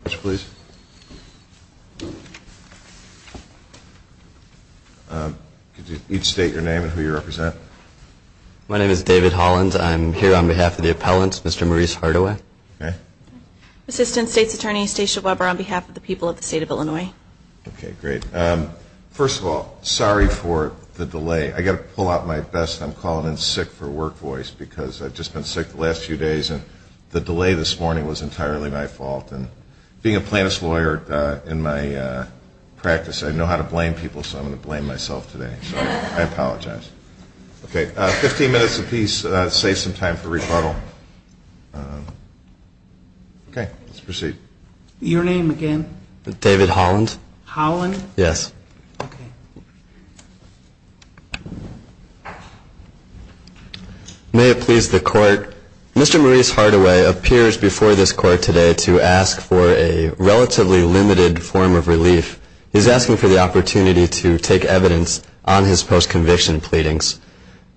Could you each state your name and who you represent. My name is David Hollins. I'm here on behalf of the appellants, Mr. Maurice Hardaway. Assistant State's Attorney Stacia Weber on behalf of the people of the state of Illinois. First of all, sorry for the delay. I've got to pull out my best I'm calling in sick for work voice because I've just been sick the last few days. And the delay this morning was entirely my fault. And being a plaintiff's lawyer in my practice, I know how to blame people. So I'm going to blame myself today. I apologize. Okay. Fifteen minutes apiece. Save some time for rebuttal. Okay. Let's proceed. Your name again? David Holland. Holland? Yes. Okay. May it please the court. Mr. Maurice Hardaway appears before this court today to ask for a relatively limited form of relief. He's asking for the opportunity to take evidence on his post-conviction pleadings.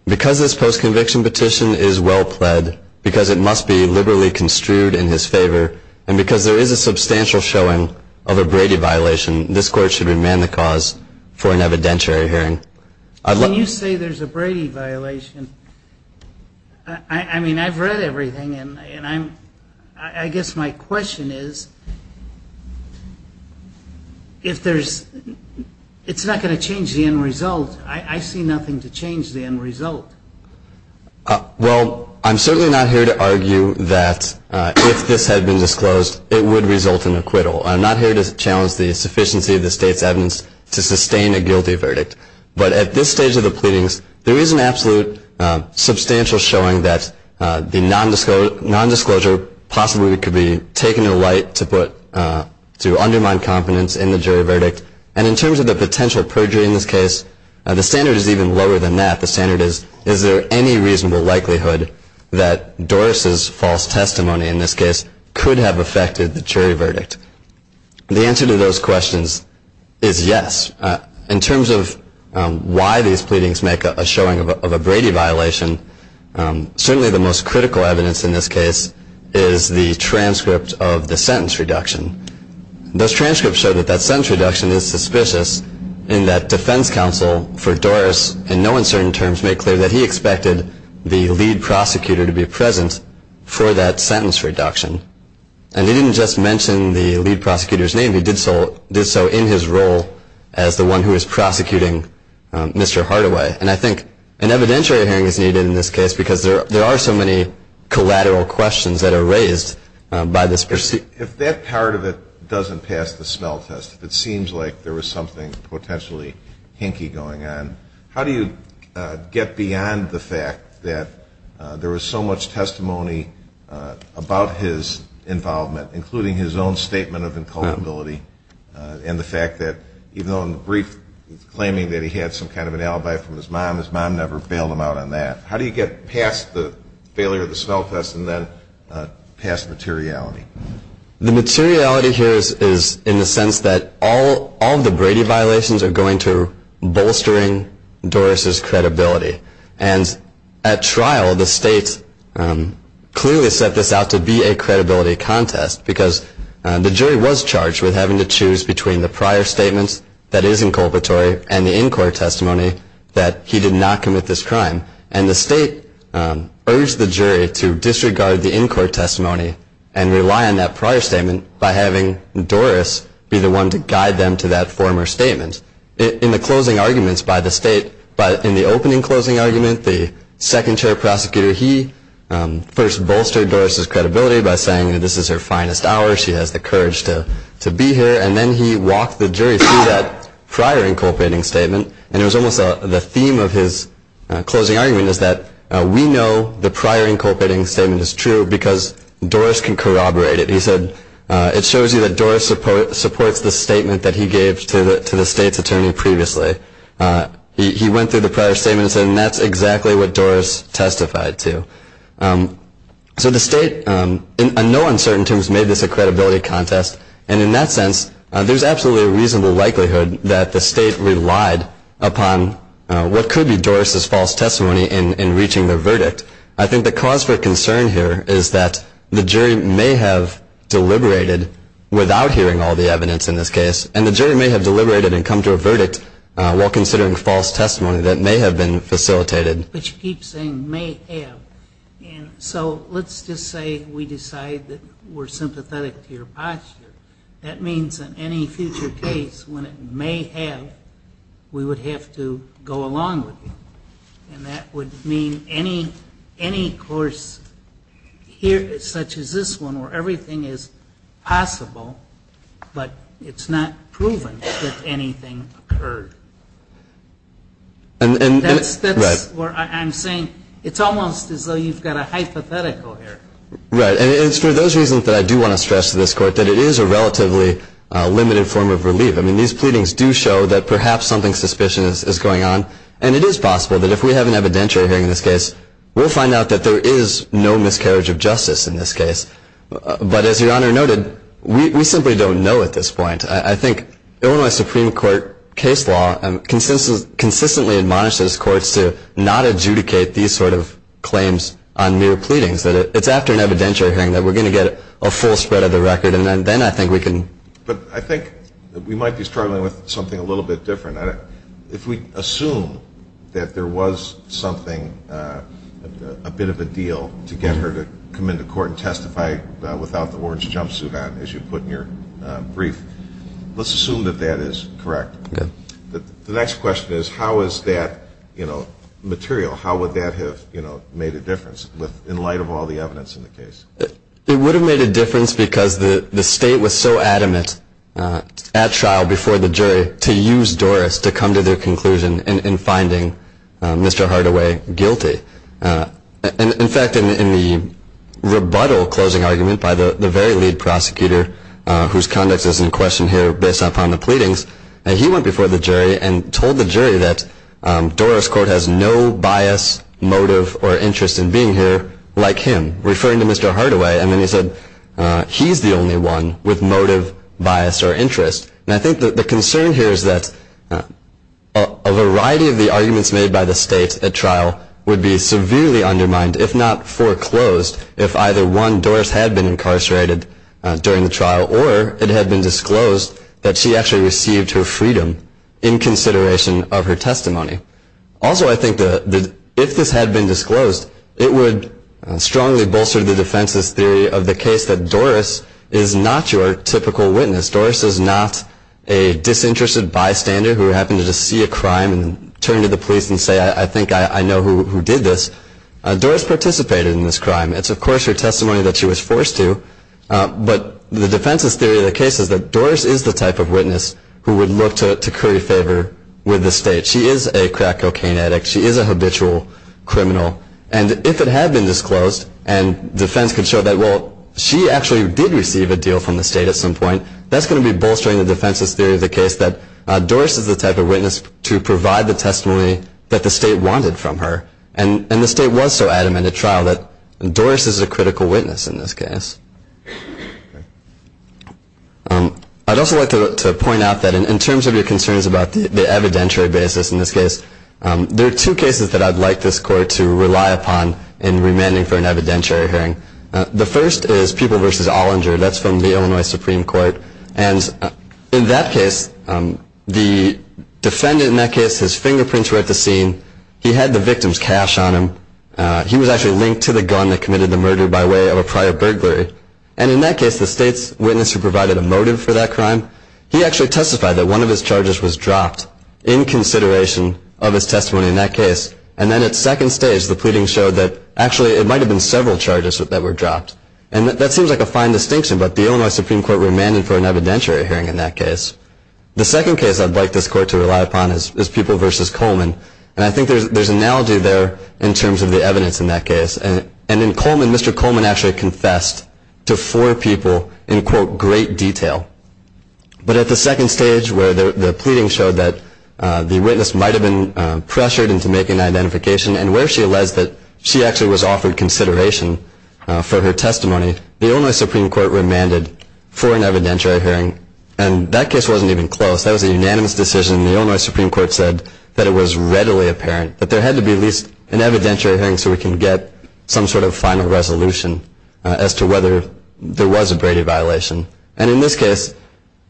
Because this post-conviction petition is well pled, because it must be liberally construed in his favor, and because there is a substantial showing of a Brady violation, this court should remand the cause for an evidentiary hearing. Can you say there's a Brady violation? I mean, I've read everything. And I guess my question is, if there's, it's not going to change the end result. I see nothing to change the end result. Well, I'm certainly not here to argue that if this had been disclosed, it would result in acquittal. I'm not here to challenge the sufficiency of the state's evidence to sustain a guilty verdict. But at this stage of the pleadings, there is an absolute substantial showing that the nondisclosure possibly could be taken to light to put, to undermine confidence in the jury verdict. And in terms of the potential perjury in this case, the standard is even lower than that. The standard is, is there any reasonable likelihood that Doris's false testimony in this case could have affected the jury verdict? The answer to those questions is yes. In terms of why these pleadings make a showing of a Brady violation, certainly the most critical evidence in this case is the transcript of the sentence reduction. Those transcripts show that that sentence reduction is suspicious in that defense counsel for Doris in no uncertain terms made clear that he expected the lead prosecutor to be present for that sentence reduction. And he didn't just mention the lead prosecutor's name. He did so in his role as the one who is prosecuting Mr. Hardaway. And I think an evidentiary hearing is needed in this case because there are so many collateral questions that are raised by this proceeding. If that part of it doesn't pass the smell test, if it seems like there was something potentially hinky going on, how do you get beyond the fact that there was so much testimony about his involvement, including his own statement of inculpability and the fact that even though in the brief he was claiming that he had some kind of an alibi from his mom, his mom never bailed him out on that. How do you get past the failure of the smell test and then past materiality? The materiality here is in the sense that all of the Brady violations are going to bolstering Doris's credibility. And at trial, the state clearly set this out to be a credibility contest because the jury was charged with having to choose between the prior statement that is inculpatory and the in-court testimony that he did not commit this crime. And the state urged the jury to disregard the in-court testimony and rely on that prior statement by having Doris be the one to guide them to that former statement. In the closing arguments by the state, in the opening closing argument, the second chair prosecutor, he first bolstered Doris's credibility by saying that this is her finest hour. She has the courage to be here. And then he walked the jury through that prior inculpating statement. And it was almost the theme of his closing argument is that we know the prior inculpating statement is true because Doris can corroborate it. He said it shows you that Doris supports the statement that he gave to the state's attorney previously. He went through the prior statement and said that's exactly what Doris testified to. So the state in no uncertain terms made this a credibility contest. And in that sense, there's absolutely a reasonable likelihood that the state relied upon what could be Doris's false testimony in reaching their verdict. I think the cause for concern here is that the jury may have deliberated without hearing all the evidence in this case. And the jury may have deliberated and come to a verdict while considering false testimony that may have been facilitated. But you keep saying may have. So let's just say we decide that we're sympathetic to your posture. That means in any future case when it may have, we would have to go along with you. And that would mean any course such as this one where everything is possible but it's not proven that anything occurred. That's where I'm saying it's almost as though you've got a hypothetical here. Right. And it's for those reasons that I do want to stress to this court that it is a relatively limited form of relief. I mean, these pleadings do show that perhaps something suspicious is going on. And it is possible that if we have an evidentiary hearing in this case, we'll find out that there is no miscarriage of justice in this case. But as Your Honor noted, we simply don't know at this point. I think Illinois Supreme Court case law consistently admonishes courts to not adjudicate these sort of claims on mere pleadings. It's after an evidentiary hearing that we're going to get a full spread of the record, and then I think we can. But I think we might be struggling with something a little bit different. If we assume that there was something, a bit of a deal to get her to come into court and testify without the orange jumpsuit on as you put in your brief, let's assume that that is correct. Okay. The next question is how is that material, how would that have made a difference in light of all the evidence in the case? It would have made a difference because the State was so adamant at trial before the jury to use Doris to come to their conclusion in finding Mr. Hardaway guilty. In fact, in the rebuttal closing argument by the very lead prosecutor, whose conduct is in question here based upon the pleadings, he went before the jury and told the jury that Doris, quote, has no bias, motive, or interest in being here like him, referring to Mr. Hardaway. And then he said he's the only one with motive, bias, or interest. And I think the concern here is that a variety of the arguments made by the State at trial would be severely undermined, if not foreclosed, if either one, Doris had been incarcerated during the trial or it had been disclosed that she actually received her freedom in consideration of her testimony. Also, I think that if this had been disclosed, it would strongly bolster the defense's theory of the case that Doris is not your typical witness. Doris is not a disinterested bystander who happened to see a crime and turn to the police and say, I think I know who did this. Doris participated in this crime. It's, of course, her testimony that she was forced to. But the defense's theory of the case is that Doris is the type of witness who would look to curry favor with the State. She is a crack cocaine addict. She is a habitual criminal. And if it had been disclosed and defense could show that, well, she actually did receive a deal from the State at some point, that's going to be bolstering the defense's theory of the case that Doris is the type of witness to provide the testimony that the State wanted from her. And the State was so adamant at trial that Doris is a critical witness in this case. I'd also like to point out that in terms of your concerns about the evidentiary basis in this case, there are two cases that I'd like this Court to rely upon in remanding for an evidentiary hearing. The first is People v. Allinger. That's from the Illinois Supreme Court. And in that case, the defendant in that case, his fingerprints were at the scene. He had the victim's cash on him. He was actually linked to the gun that committed the murder by way of a prior burglary. And in that case, the State's witness who provided a motive for that crime, he actually testified that one of his charges was dropped in consideration of his testimony in that case. And then at second stage, the pleading showed that actually it might have been several charges that were dropped. And that seems like a fine distinction, but the Illinois Supreme Court remanded for an evidentiary hearing in that case. The second case I'd like this Court to rely upon is People v. Coleman. And I think there's an analogy there in terms of the evidence in that case. And in Coleman, Mr. Coleman actually confessed to four people in, quote, great detail. But at the second stage where the pleading showed that the witness might have been pressured into making an identification and where she alleged that she actually was offered consideration for her testimony, the Illinois Supreme Court remanded for an evidentiary hearing. And that case wasn't even close. That was a unanimous decision. The Illinois Supreme Court said that it was readily apparent that there had to be at least an evidentiary hearing so we can get some sort of final resolution as to whether there was a Brady violation. And in this case,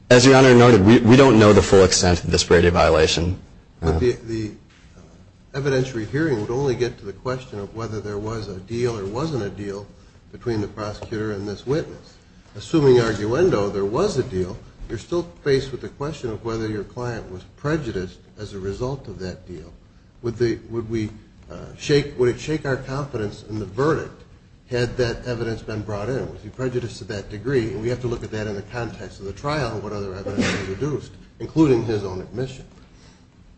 as Your Honor noted, we don't know the full extent of this Brady violation. The evidentiary hearing would only get to the question of whether there was a deal or wasn't a deal between the prosecutor and this witness. Assuming, arguendo, there was a deal, you're still faced with the question of whether your client was prejudiced as a result of that deal. Would it shake our confidence in the verdict had that evidence been brought in? Was he prejudiced to that degree? And we have to look at that in the context of the trial and what other evidence was produced, including his own admission.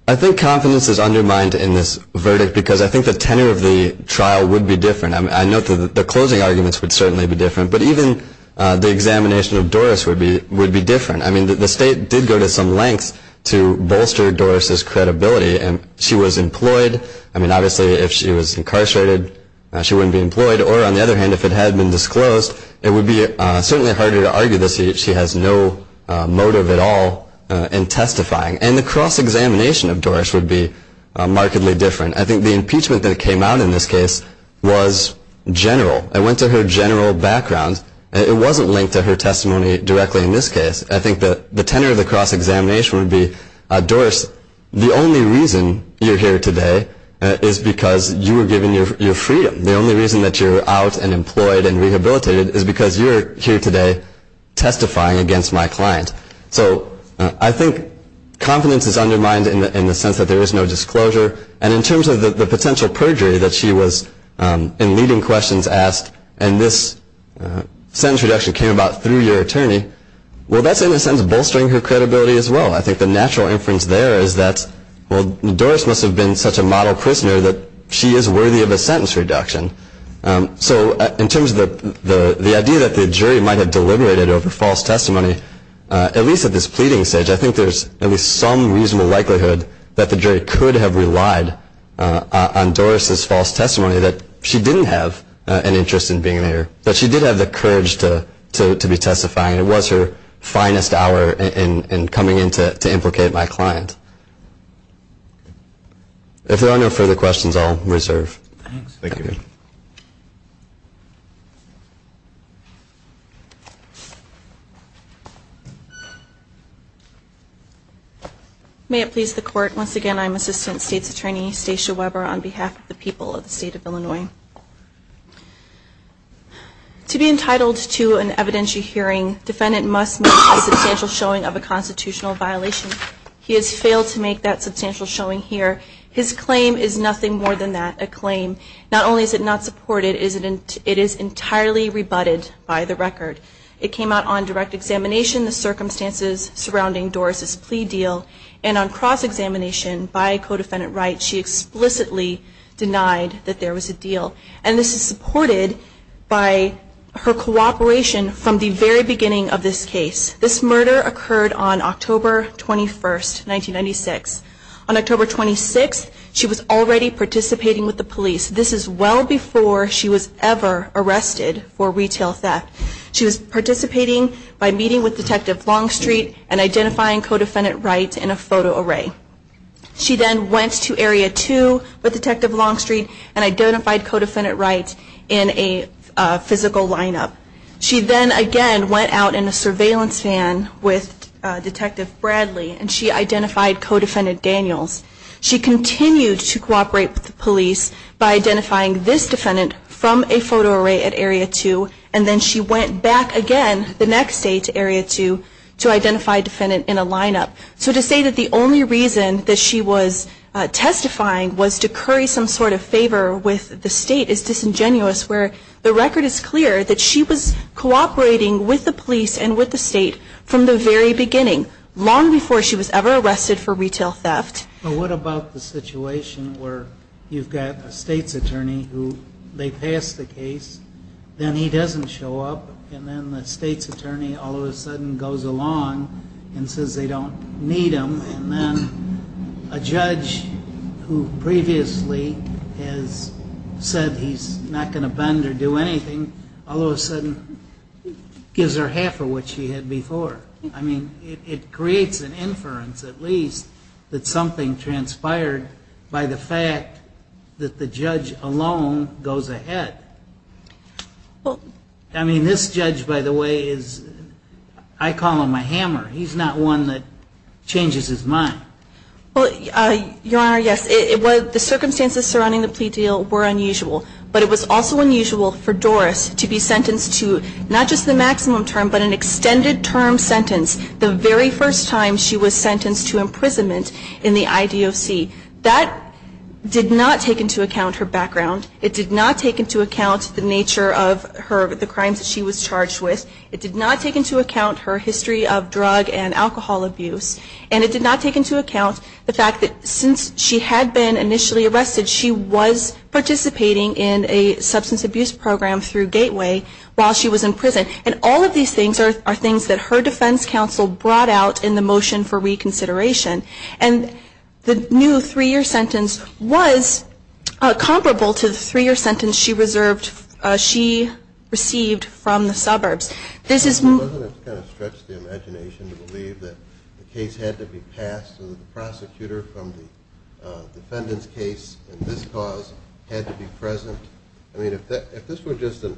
I think confidence is undermined in this verdict because I think the tenor of the trial would be different. I note that the closing arguments would certainly be different, but even the examination of Doris would be different. I mean, the State did go to some lengths to bolster Doris's credibility. She was employed. I mean, obviously, if she was incarcerated, she wouldn't be employed. Or, on the other hand, if it had been disclosed, it would be certainly harder to argue this. She has no motive at all in testifying. And the cross-examination of Doris would be markedly different. I think the impeachment that came out in this case was general. It went to her general background. It wasn't linked to her testimony directly in this case. I think the tenor of the cross-examination would be, Doris, the only reason you're here today is because you were given your freedom. The only reason that you're out and employed and rehabilitated is because you're here today testifying against my client. So I think confidence is undermined in the sense that there is no disclosure. And in terms of the potential perjury that she was, in leading questions, asked, and this sentence reduction came about through your attorney, well, that's in a sense bolstering her credibility as well. I think the natural inference there is that, well, Doris must have been such a model prisoner that she is worthy of a sentence reduction. So in terms of the idea that the jury might have deliberated over false testimony, at least at this pleading stage, I think there's at least some reasonable likelihood that the jury could have relied on Doris' false testimony, that she didn't have an interest in being an actor, but she did have the courage to be testifying. It was her finest hour in coming in to implicate my client. If there are no further questions, I'll reserve. Thank you. May it please the Court, once again, I'm Assistant State's Attorney Stacia Weber on behalf of the people of the State of Illinois. To be entitled to an evidentiary hearing, defendant must make a substantial showing of a constitutional violation. He has failed to make that substantial showing here. His claim is nothing more than that, a claim. Not only is it not supported, it is entirely rebutted by the record. It came out on direct examination, the circumstances surrounding Doris' plea deal, and on cross-examination by a co-defendant right, she explicitly denied that there was a deal. And this is supported by her cooperation from the very beginning of this case. This murder occurred on October 21, 1996. On October 26, she was already participating with the police. This is well before she was ever arrested for retail theft. She was participating by meeting with Detective Longstreet and identifying co-defendant rights in a photo array. She then went to Area 2 with Detective Longstreet and identified co-defendant rights in a physical lineup. She then again went out in a surveillance van with Detective Bradley, and she identified co-defendant Daniels. She continued to cooperate with the police by identifying this defendant from a photo array at Area 2, and then she went back again the next day to Area 2 to identify a defendant in a lineup. So to say that the only reason that she was testifying was to curry some sort of favor with the state is disingenuous, where the record is clear that she was cooperating with the police and with the state from the very beginning, long before she was ever arrested for retail theft. But what about the situation where you've got a state's attorney who they pass the case, then he doesn't show up, and then the state's attorney all of a sudden goes along and says they don't need him, and then a judge who previously has said he's not going to bend or do anything, all of a sudden gives her half of what she had before. I mean, it creates an inference at least that something transpired by the fact that the judge alone goes ahead. I mean, this judge, by the way, I call him a hammer. He's not one that changes his mind. Well, Your Honor, yes, the circumstances surrounding the plea deal were unusual, but it was also unusual for Doris to be sentenced to not just the maximum term, but an extended term sentence the very first time she was sentenced to imprisonment in the IDOC. That did not take into account her background. It did not take into account the nature of the crimes that she was charged with. It did not take into account her history of drug and alcohol abuse. And it did not take into account the fact that since she had been initially arrested, she was participating in a substance abuse program through Gateway while she was in prison. And all of these things are things that her defense counsel brought out in the motion for reconsideration. And the new three-year sentence was comparable to the three-year sentence she received from the suburbs. This is more than a stretch of the imagination to believe that the case had to be passed and that the prosecutor from the defendant's case in this cause had to be present. I mean, if this were just a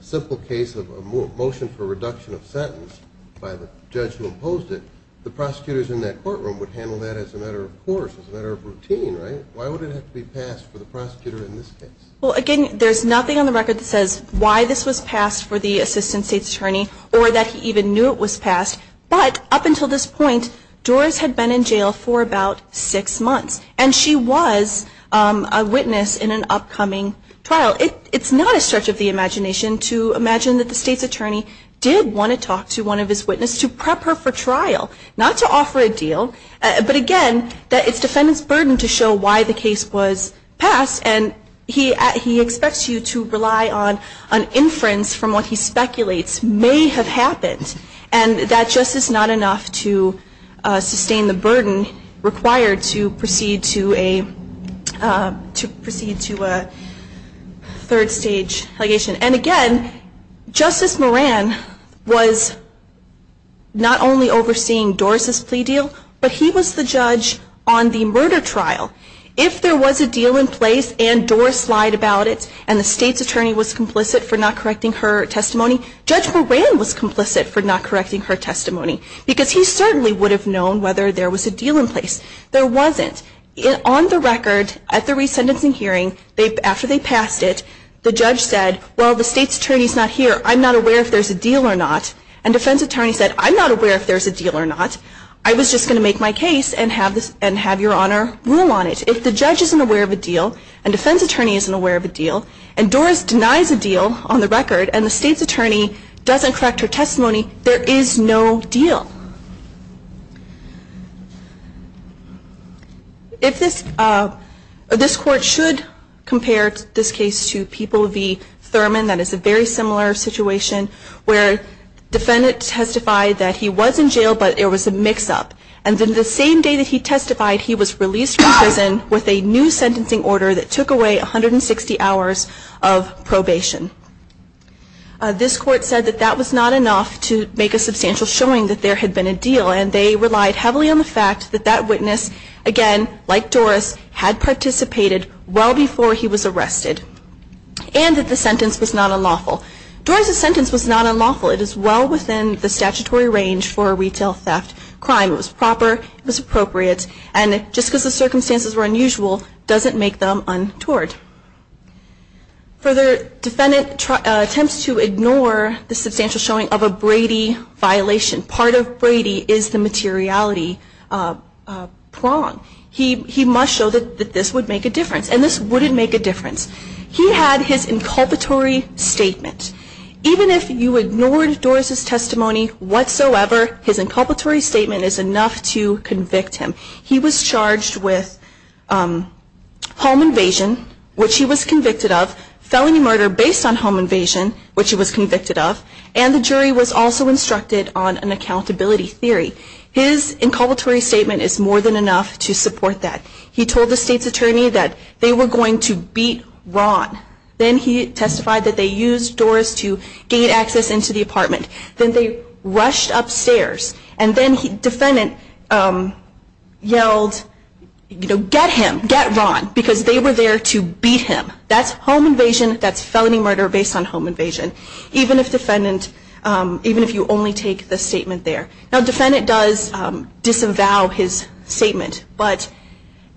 simple case of a motion for reduction of sentence by the judge who imposed it, the prosecutors in that courtroom would handle that as a matter of course, as a matter of routine, right? Why would it have to be passed for the prosecutor in this case? Well, again, there's nothing on the record that says why this was passed for the assistant state's attorney or that he even knew it was passed. But up until this point, Doris had been in jail for about six months, and she was a witness in an upcoming trial. It's not a stretch of the imagination to imagine that the state's attorney did want to talk to one of his witnesses to prep her for trial, not to offer a deal. But, again, it's the defendant's burden to show why the case was passed, and he expects you to rely on inference from what he speculates may have happened and that just is not enough to sustain the burden required to proceed to a third-stage allegation. And, again, Justice Moran was not only overseeing Doris' plea deal, but he was the judge on the murder trial. If there was a deal in place and Doris lied about it and the state's attorney was complicit for not correcting her testimony, Judge Moran was complicit for not correcting her testimony because he certainly would have known whether there was a deal in place. There wasn't. On the record, at the resentencing hearing, after they passed it, the judge said, well, the state's attorney's not here. I'm not aware if there's a deal or not. And defense attorney said, I'm not aware if there's a deal or not. I was just going to make my case and have Your Honor rule on it. If the judge isn't aware of a deal and defense attorney isn't aware of a deal, and Doris denies a deal on the record and the state's attorney doesn't correct her testimony, there is no deal. If this court should compare this case to People v. Thurman, that is a very similar situation, where the defendant testified that he was in jail, but it was a mix-up. And then the same day that he testified, he was released from prison with a new sentencing order that took away 160 hours of probation. This court said that that was not enough to make a substantial showing that there had been a deal. And they relied heavily on the fact that that witness, again, like Doris, had participated well before he was arrested and that the sentence was not unlawful. Doris' sentence was not unlawful. It is well within the statutory range for a retail theft crime. It was proper. It was appropriate. And just because the circumstances were unusual doesn't make them untoward. Further, defendant attempts to ignore the substantial showing of a Brady violation. Part of Brady is the materiality prong. He must show that this would make a difference. And this wouldn't make a difference. He had his inculpatory statement. Even if you ignored Doris' testimony whatsoever, his inculpatory statement is enough to convict him. He was charged with home invasion, which he was convicted of, felony murder based on home invasion, which he was convicted of, and the jury was also instructed on an accountability theory. His inculpatory statement is more than enough to support that. He told the state's attorney that they were going to beat Ron. Then he testified that they used Doris to gain access into the apartment. Then they rushed upstairs. And then the defendant yelled, you know, get him, get Ron, because they were there to beat him. That's home invasion. That's felony murder based on home invasion, even if you only take the statement there. Now, defendant does disavow his statement. But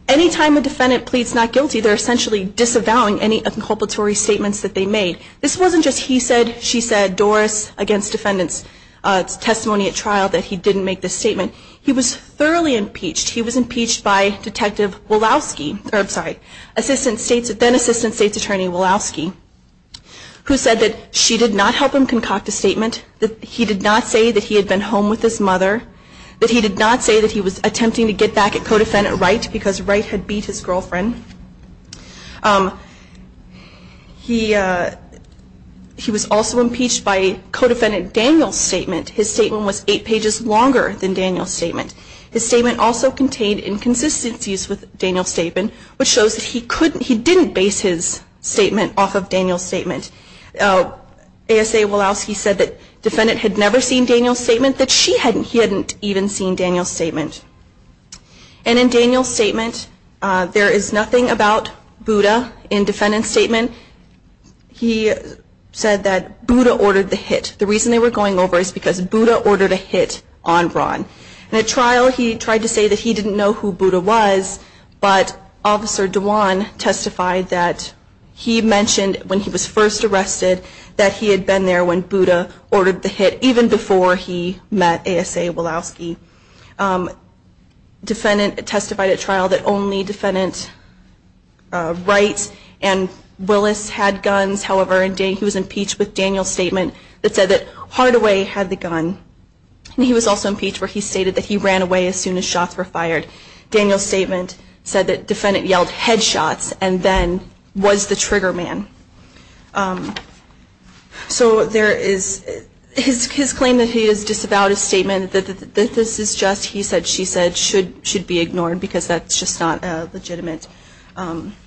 any time a defendant pleads not guilty, they're essentially disavowing any inculpatory statements that they made. This wasn't just he said, she said, Doris against defendant's testimony at trial that he didn't make this statement. He was thoroughly impeached. He was impeached by Detective Wolowski, sorry, then Assistant State's Attorney Wolowski, who said that she did not help him concoct a statement, that he did not say that he had been home with his mother, that he did not say that he was attempting to get back at co-defendant Wright because Wright had beat his girlfriend. He was also impeached by co-defendant Daniel's statement. His statement also contained inconsistencies with Daniel's statement, which shows that he couldn't, he didn't base his statement off of Daniel's statement. ASA Wolowski said that defendant had never seen Daniel's statement, that she hadn't, he hadn't even seen Daniel's statement. And in Daniel's statement, there is nothing about Buddha in defendant's statement. He said that Buddha ordered the hit. The reason they were going over is because Buddha ordered a hit on Ron. And at trial, he tried to say that he didn't know who Buddha was, but Officer Dewan testified that he mentioned when he was first arrested, that he had been there when Buddha ordered the hit, even before he met ASA Wolowski. Defendant testified at trial that only defendant Wright and Willis had guns. However, he was impeached with Daniel's statement that said that Hardaway had the gun. And he was also impeached where he stated that he ran away as soon as shots were fired. Daniel's statement said that defendant yelled headshots and then was the trigger man. So there is, his claim that he has disavowed his statement, that this is just he said, she said, should be ignored because that's just not a legitimate argument.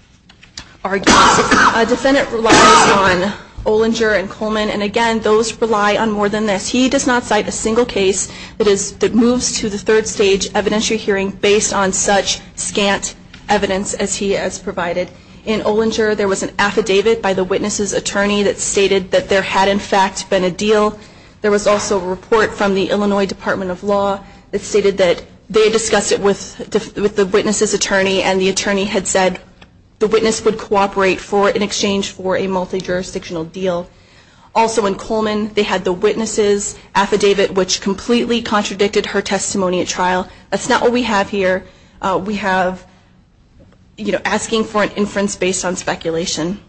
Defendant relies on Olinger and Coleman, and again, those rely on more than this. He does not cite a single case that moves to the third stage evidentiary hearing based on such scant evidence as he has provided. In Olinger, there was an affidavit by the witness's attorney that stated that there had, in fact, been a deal. There was also a report from the Illinois Department of Law that stated that they discussed it with the witness's attorney, and the attorney had said the witness would cooperate in exchange for a multi-jurisdictional deal. Also in Coleman, they had the witness's affidavit, which completely contradicted her testimony at trial. That's not what we have here. We have, you know, asking for an inference based on speculation,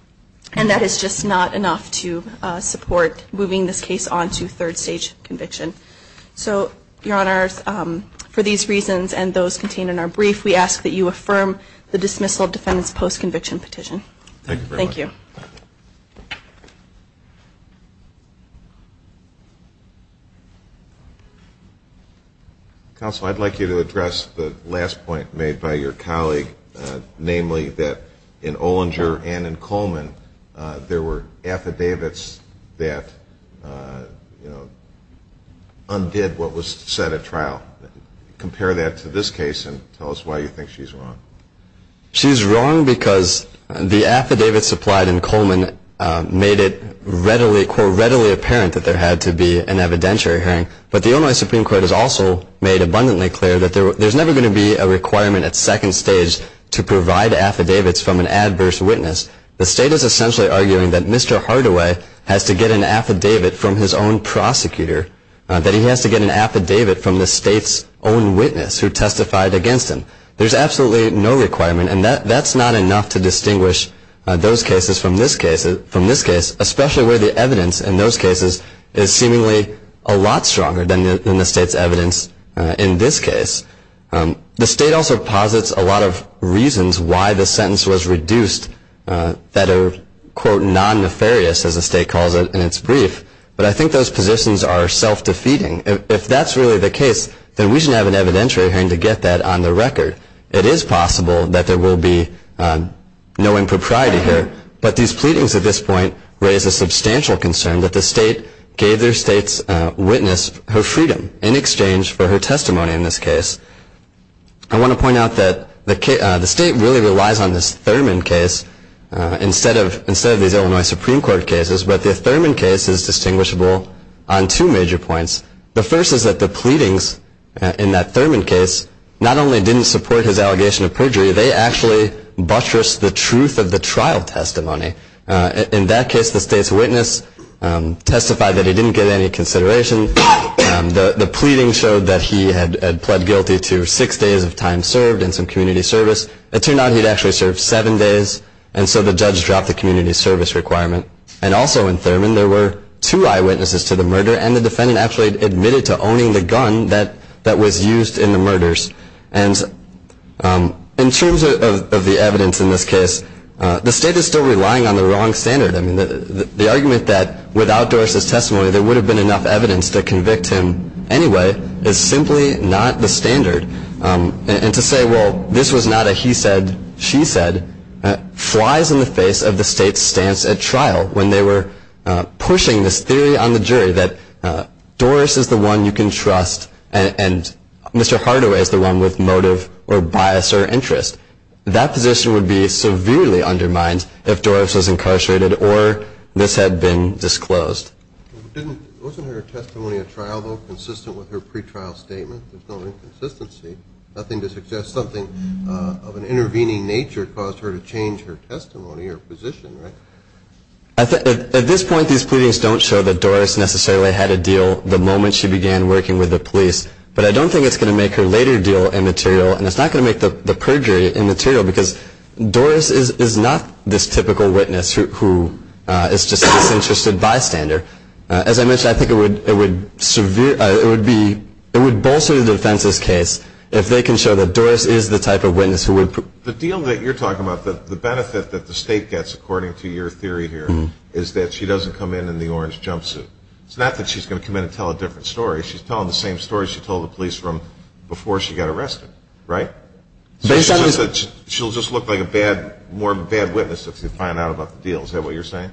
and that is just not enough to support moving this case on to third stage conviction. So, Your Honors, for these reasons and those contained in our brief, we ask that you affirm the dismissal of defendant's post-conviction petition. Thank you very much. Thank you. Counsel, I'd like you to address the last point made by your colleague, namely that in Olinger and in Coleman there were affidavits that, you know, undid what was said at trial. Compare that to this case and tell us why you think she's wrong. She's wrong because the affidavit supplied in Coleman made it readily, quote, readily apparent that there had to be an evidentiary hearing. But the Illinois Supreme Court has also made abundantly clear that there's never going to be a requirement at second stage to provide affidavits from an adverse witness. The state is essentially arguing that Mr. Hardaway has to get an affidavit from his own prosecutor, that he has to get an affidavit from the state's own witness who testified against him. There's absolutely no requirement, and that's not enough to distinguish those cases from this case, especially where the evidence in those cases is seemingly a lot stronger than the state's evidence in this case. The state also posits a lot of reasons why the sentence was reduced that are, quote, non-nefarious, as the state calls it in its brief. But I think those positions are self-defeating. If that's really the case, then we should have an evidentiary hearing to get that on the record. It is possible that there will be no impropriety here, but these pleadings at this point raise a substantial concern that the state gave their state's witness her freedom in exchange for her testimony in this case. I want to point out that the state really relies on this Thurman case instead of these Illinois Supreme Court cases, but the Thurman case is distinguishable on two major points. The first is that the pleadings in that Thurman case not only didn't support his allegation of perjury, they actually buttressed the truth of the trial testimony. In that case, the state's witness testified that he didn't get any consideration. The pleading showed that he had pled guilty to six days of time served in some community service. It turned out he'd actually served seven days, and so the judge dropped the community service requirement. And also in Thurman, there were two eyewitnesses to the murder, and the defendant actually admitted to owning the gun that was used in the murders. And in terms of the evidence in this case, the state is still relying on the wrong standard. I mean, the argument that without Doris' testimony, there would have been enough evidence to convict him anyway is simply not the standard. And to say, well, this was not a he said, she said, flies in the face of the state's stance at trial when they were pushing this theory on the jury that Doris is the one you can trust and Mr. Hardaway is the one with motive or bias or interest. That position would be severely undermined if Doris was incarcerated or this had been disclosed. Wasn't her testimony at trial, though, consistent with her pretrial statement? There's no inconsistency, nothing to suggest something of an intervening nature caused her to change her testimony or position, right? At this point, these pleadings don't show that Doris necessarily had a deal the moment she began working with the police, but I don't think it's going to make her later deal immaterial, and it's not going to make the perjury immaterial, because Doris is not this typical witness who is just a disinterested bystander. As I mentioned, I think it would bolster the defense's case if they can show that Doris is the type of witness who would prove. The deal that you're talking about, the benefit that the state gets, according to your theory here, is that she doesn't come in in the orange jumpsuit. It's not that she's going to come in and tell a different story. She's telling the same story she told the police before she got arrested, right? She'll just look like a more bad witness if she finds out about the deal. Is that what you're saying?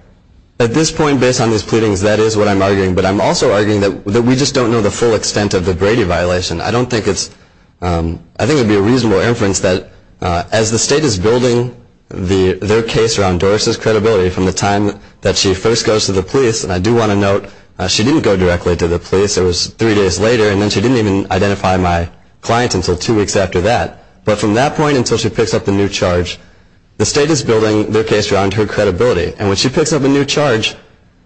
At this point, based on these pleadings, that is what I'm arguing, but I'm also arguing that we just don't know the full extent of the Brady violation. I think it would be a reasonable inference that as the state is building their case around Doris's credibility from the time that she first goes to the police, and I do want to note she didn't go directly to the police. It was three days later, and then she didn't even identify my client until two weeks after that. But from that point until she picks up the new charge, the state is building their case around her credibility. And when she picks up a new charge,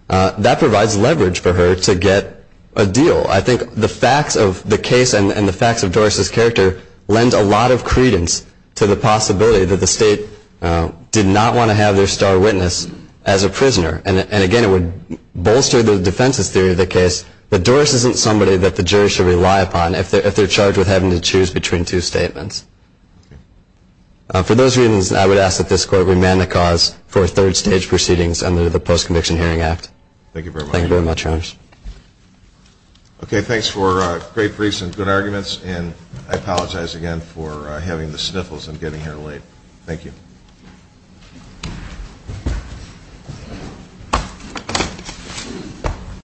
that provides leverage for her to get a deal. I think the facts of the case and the facts of Doris's character lend a lot of credence to the possibility that the state did not want to have their star witness as a prisoner. And again, it would bolster the defense's theory of the case that Doris isn't somebody that the jury should rely upon if they're charged with having to choose between two statements. For those reasons, I would ask that this Court remand the cause for third-stage proceedings under the Post-Conviction Hearing Act. Thank you very much. Thank you very much, Your Honor. Okay, thanks for great briefs and good arguments, and I apologize again for having the sniffles and getting here late. Thank you.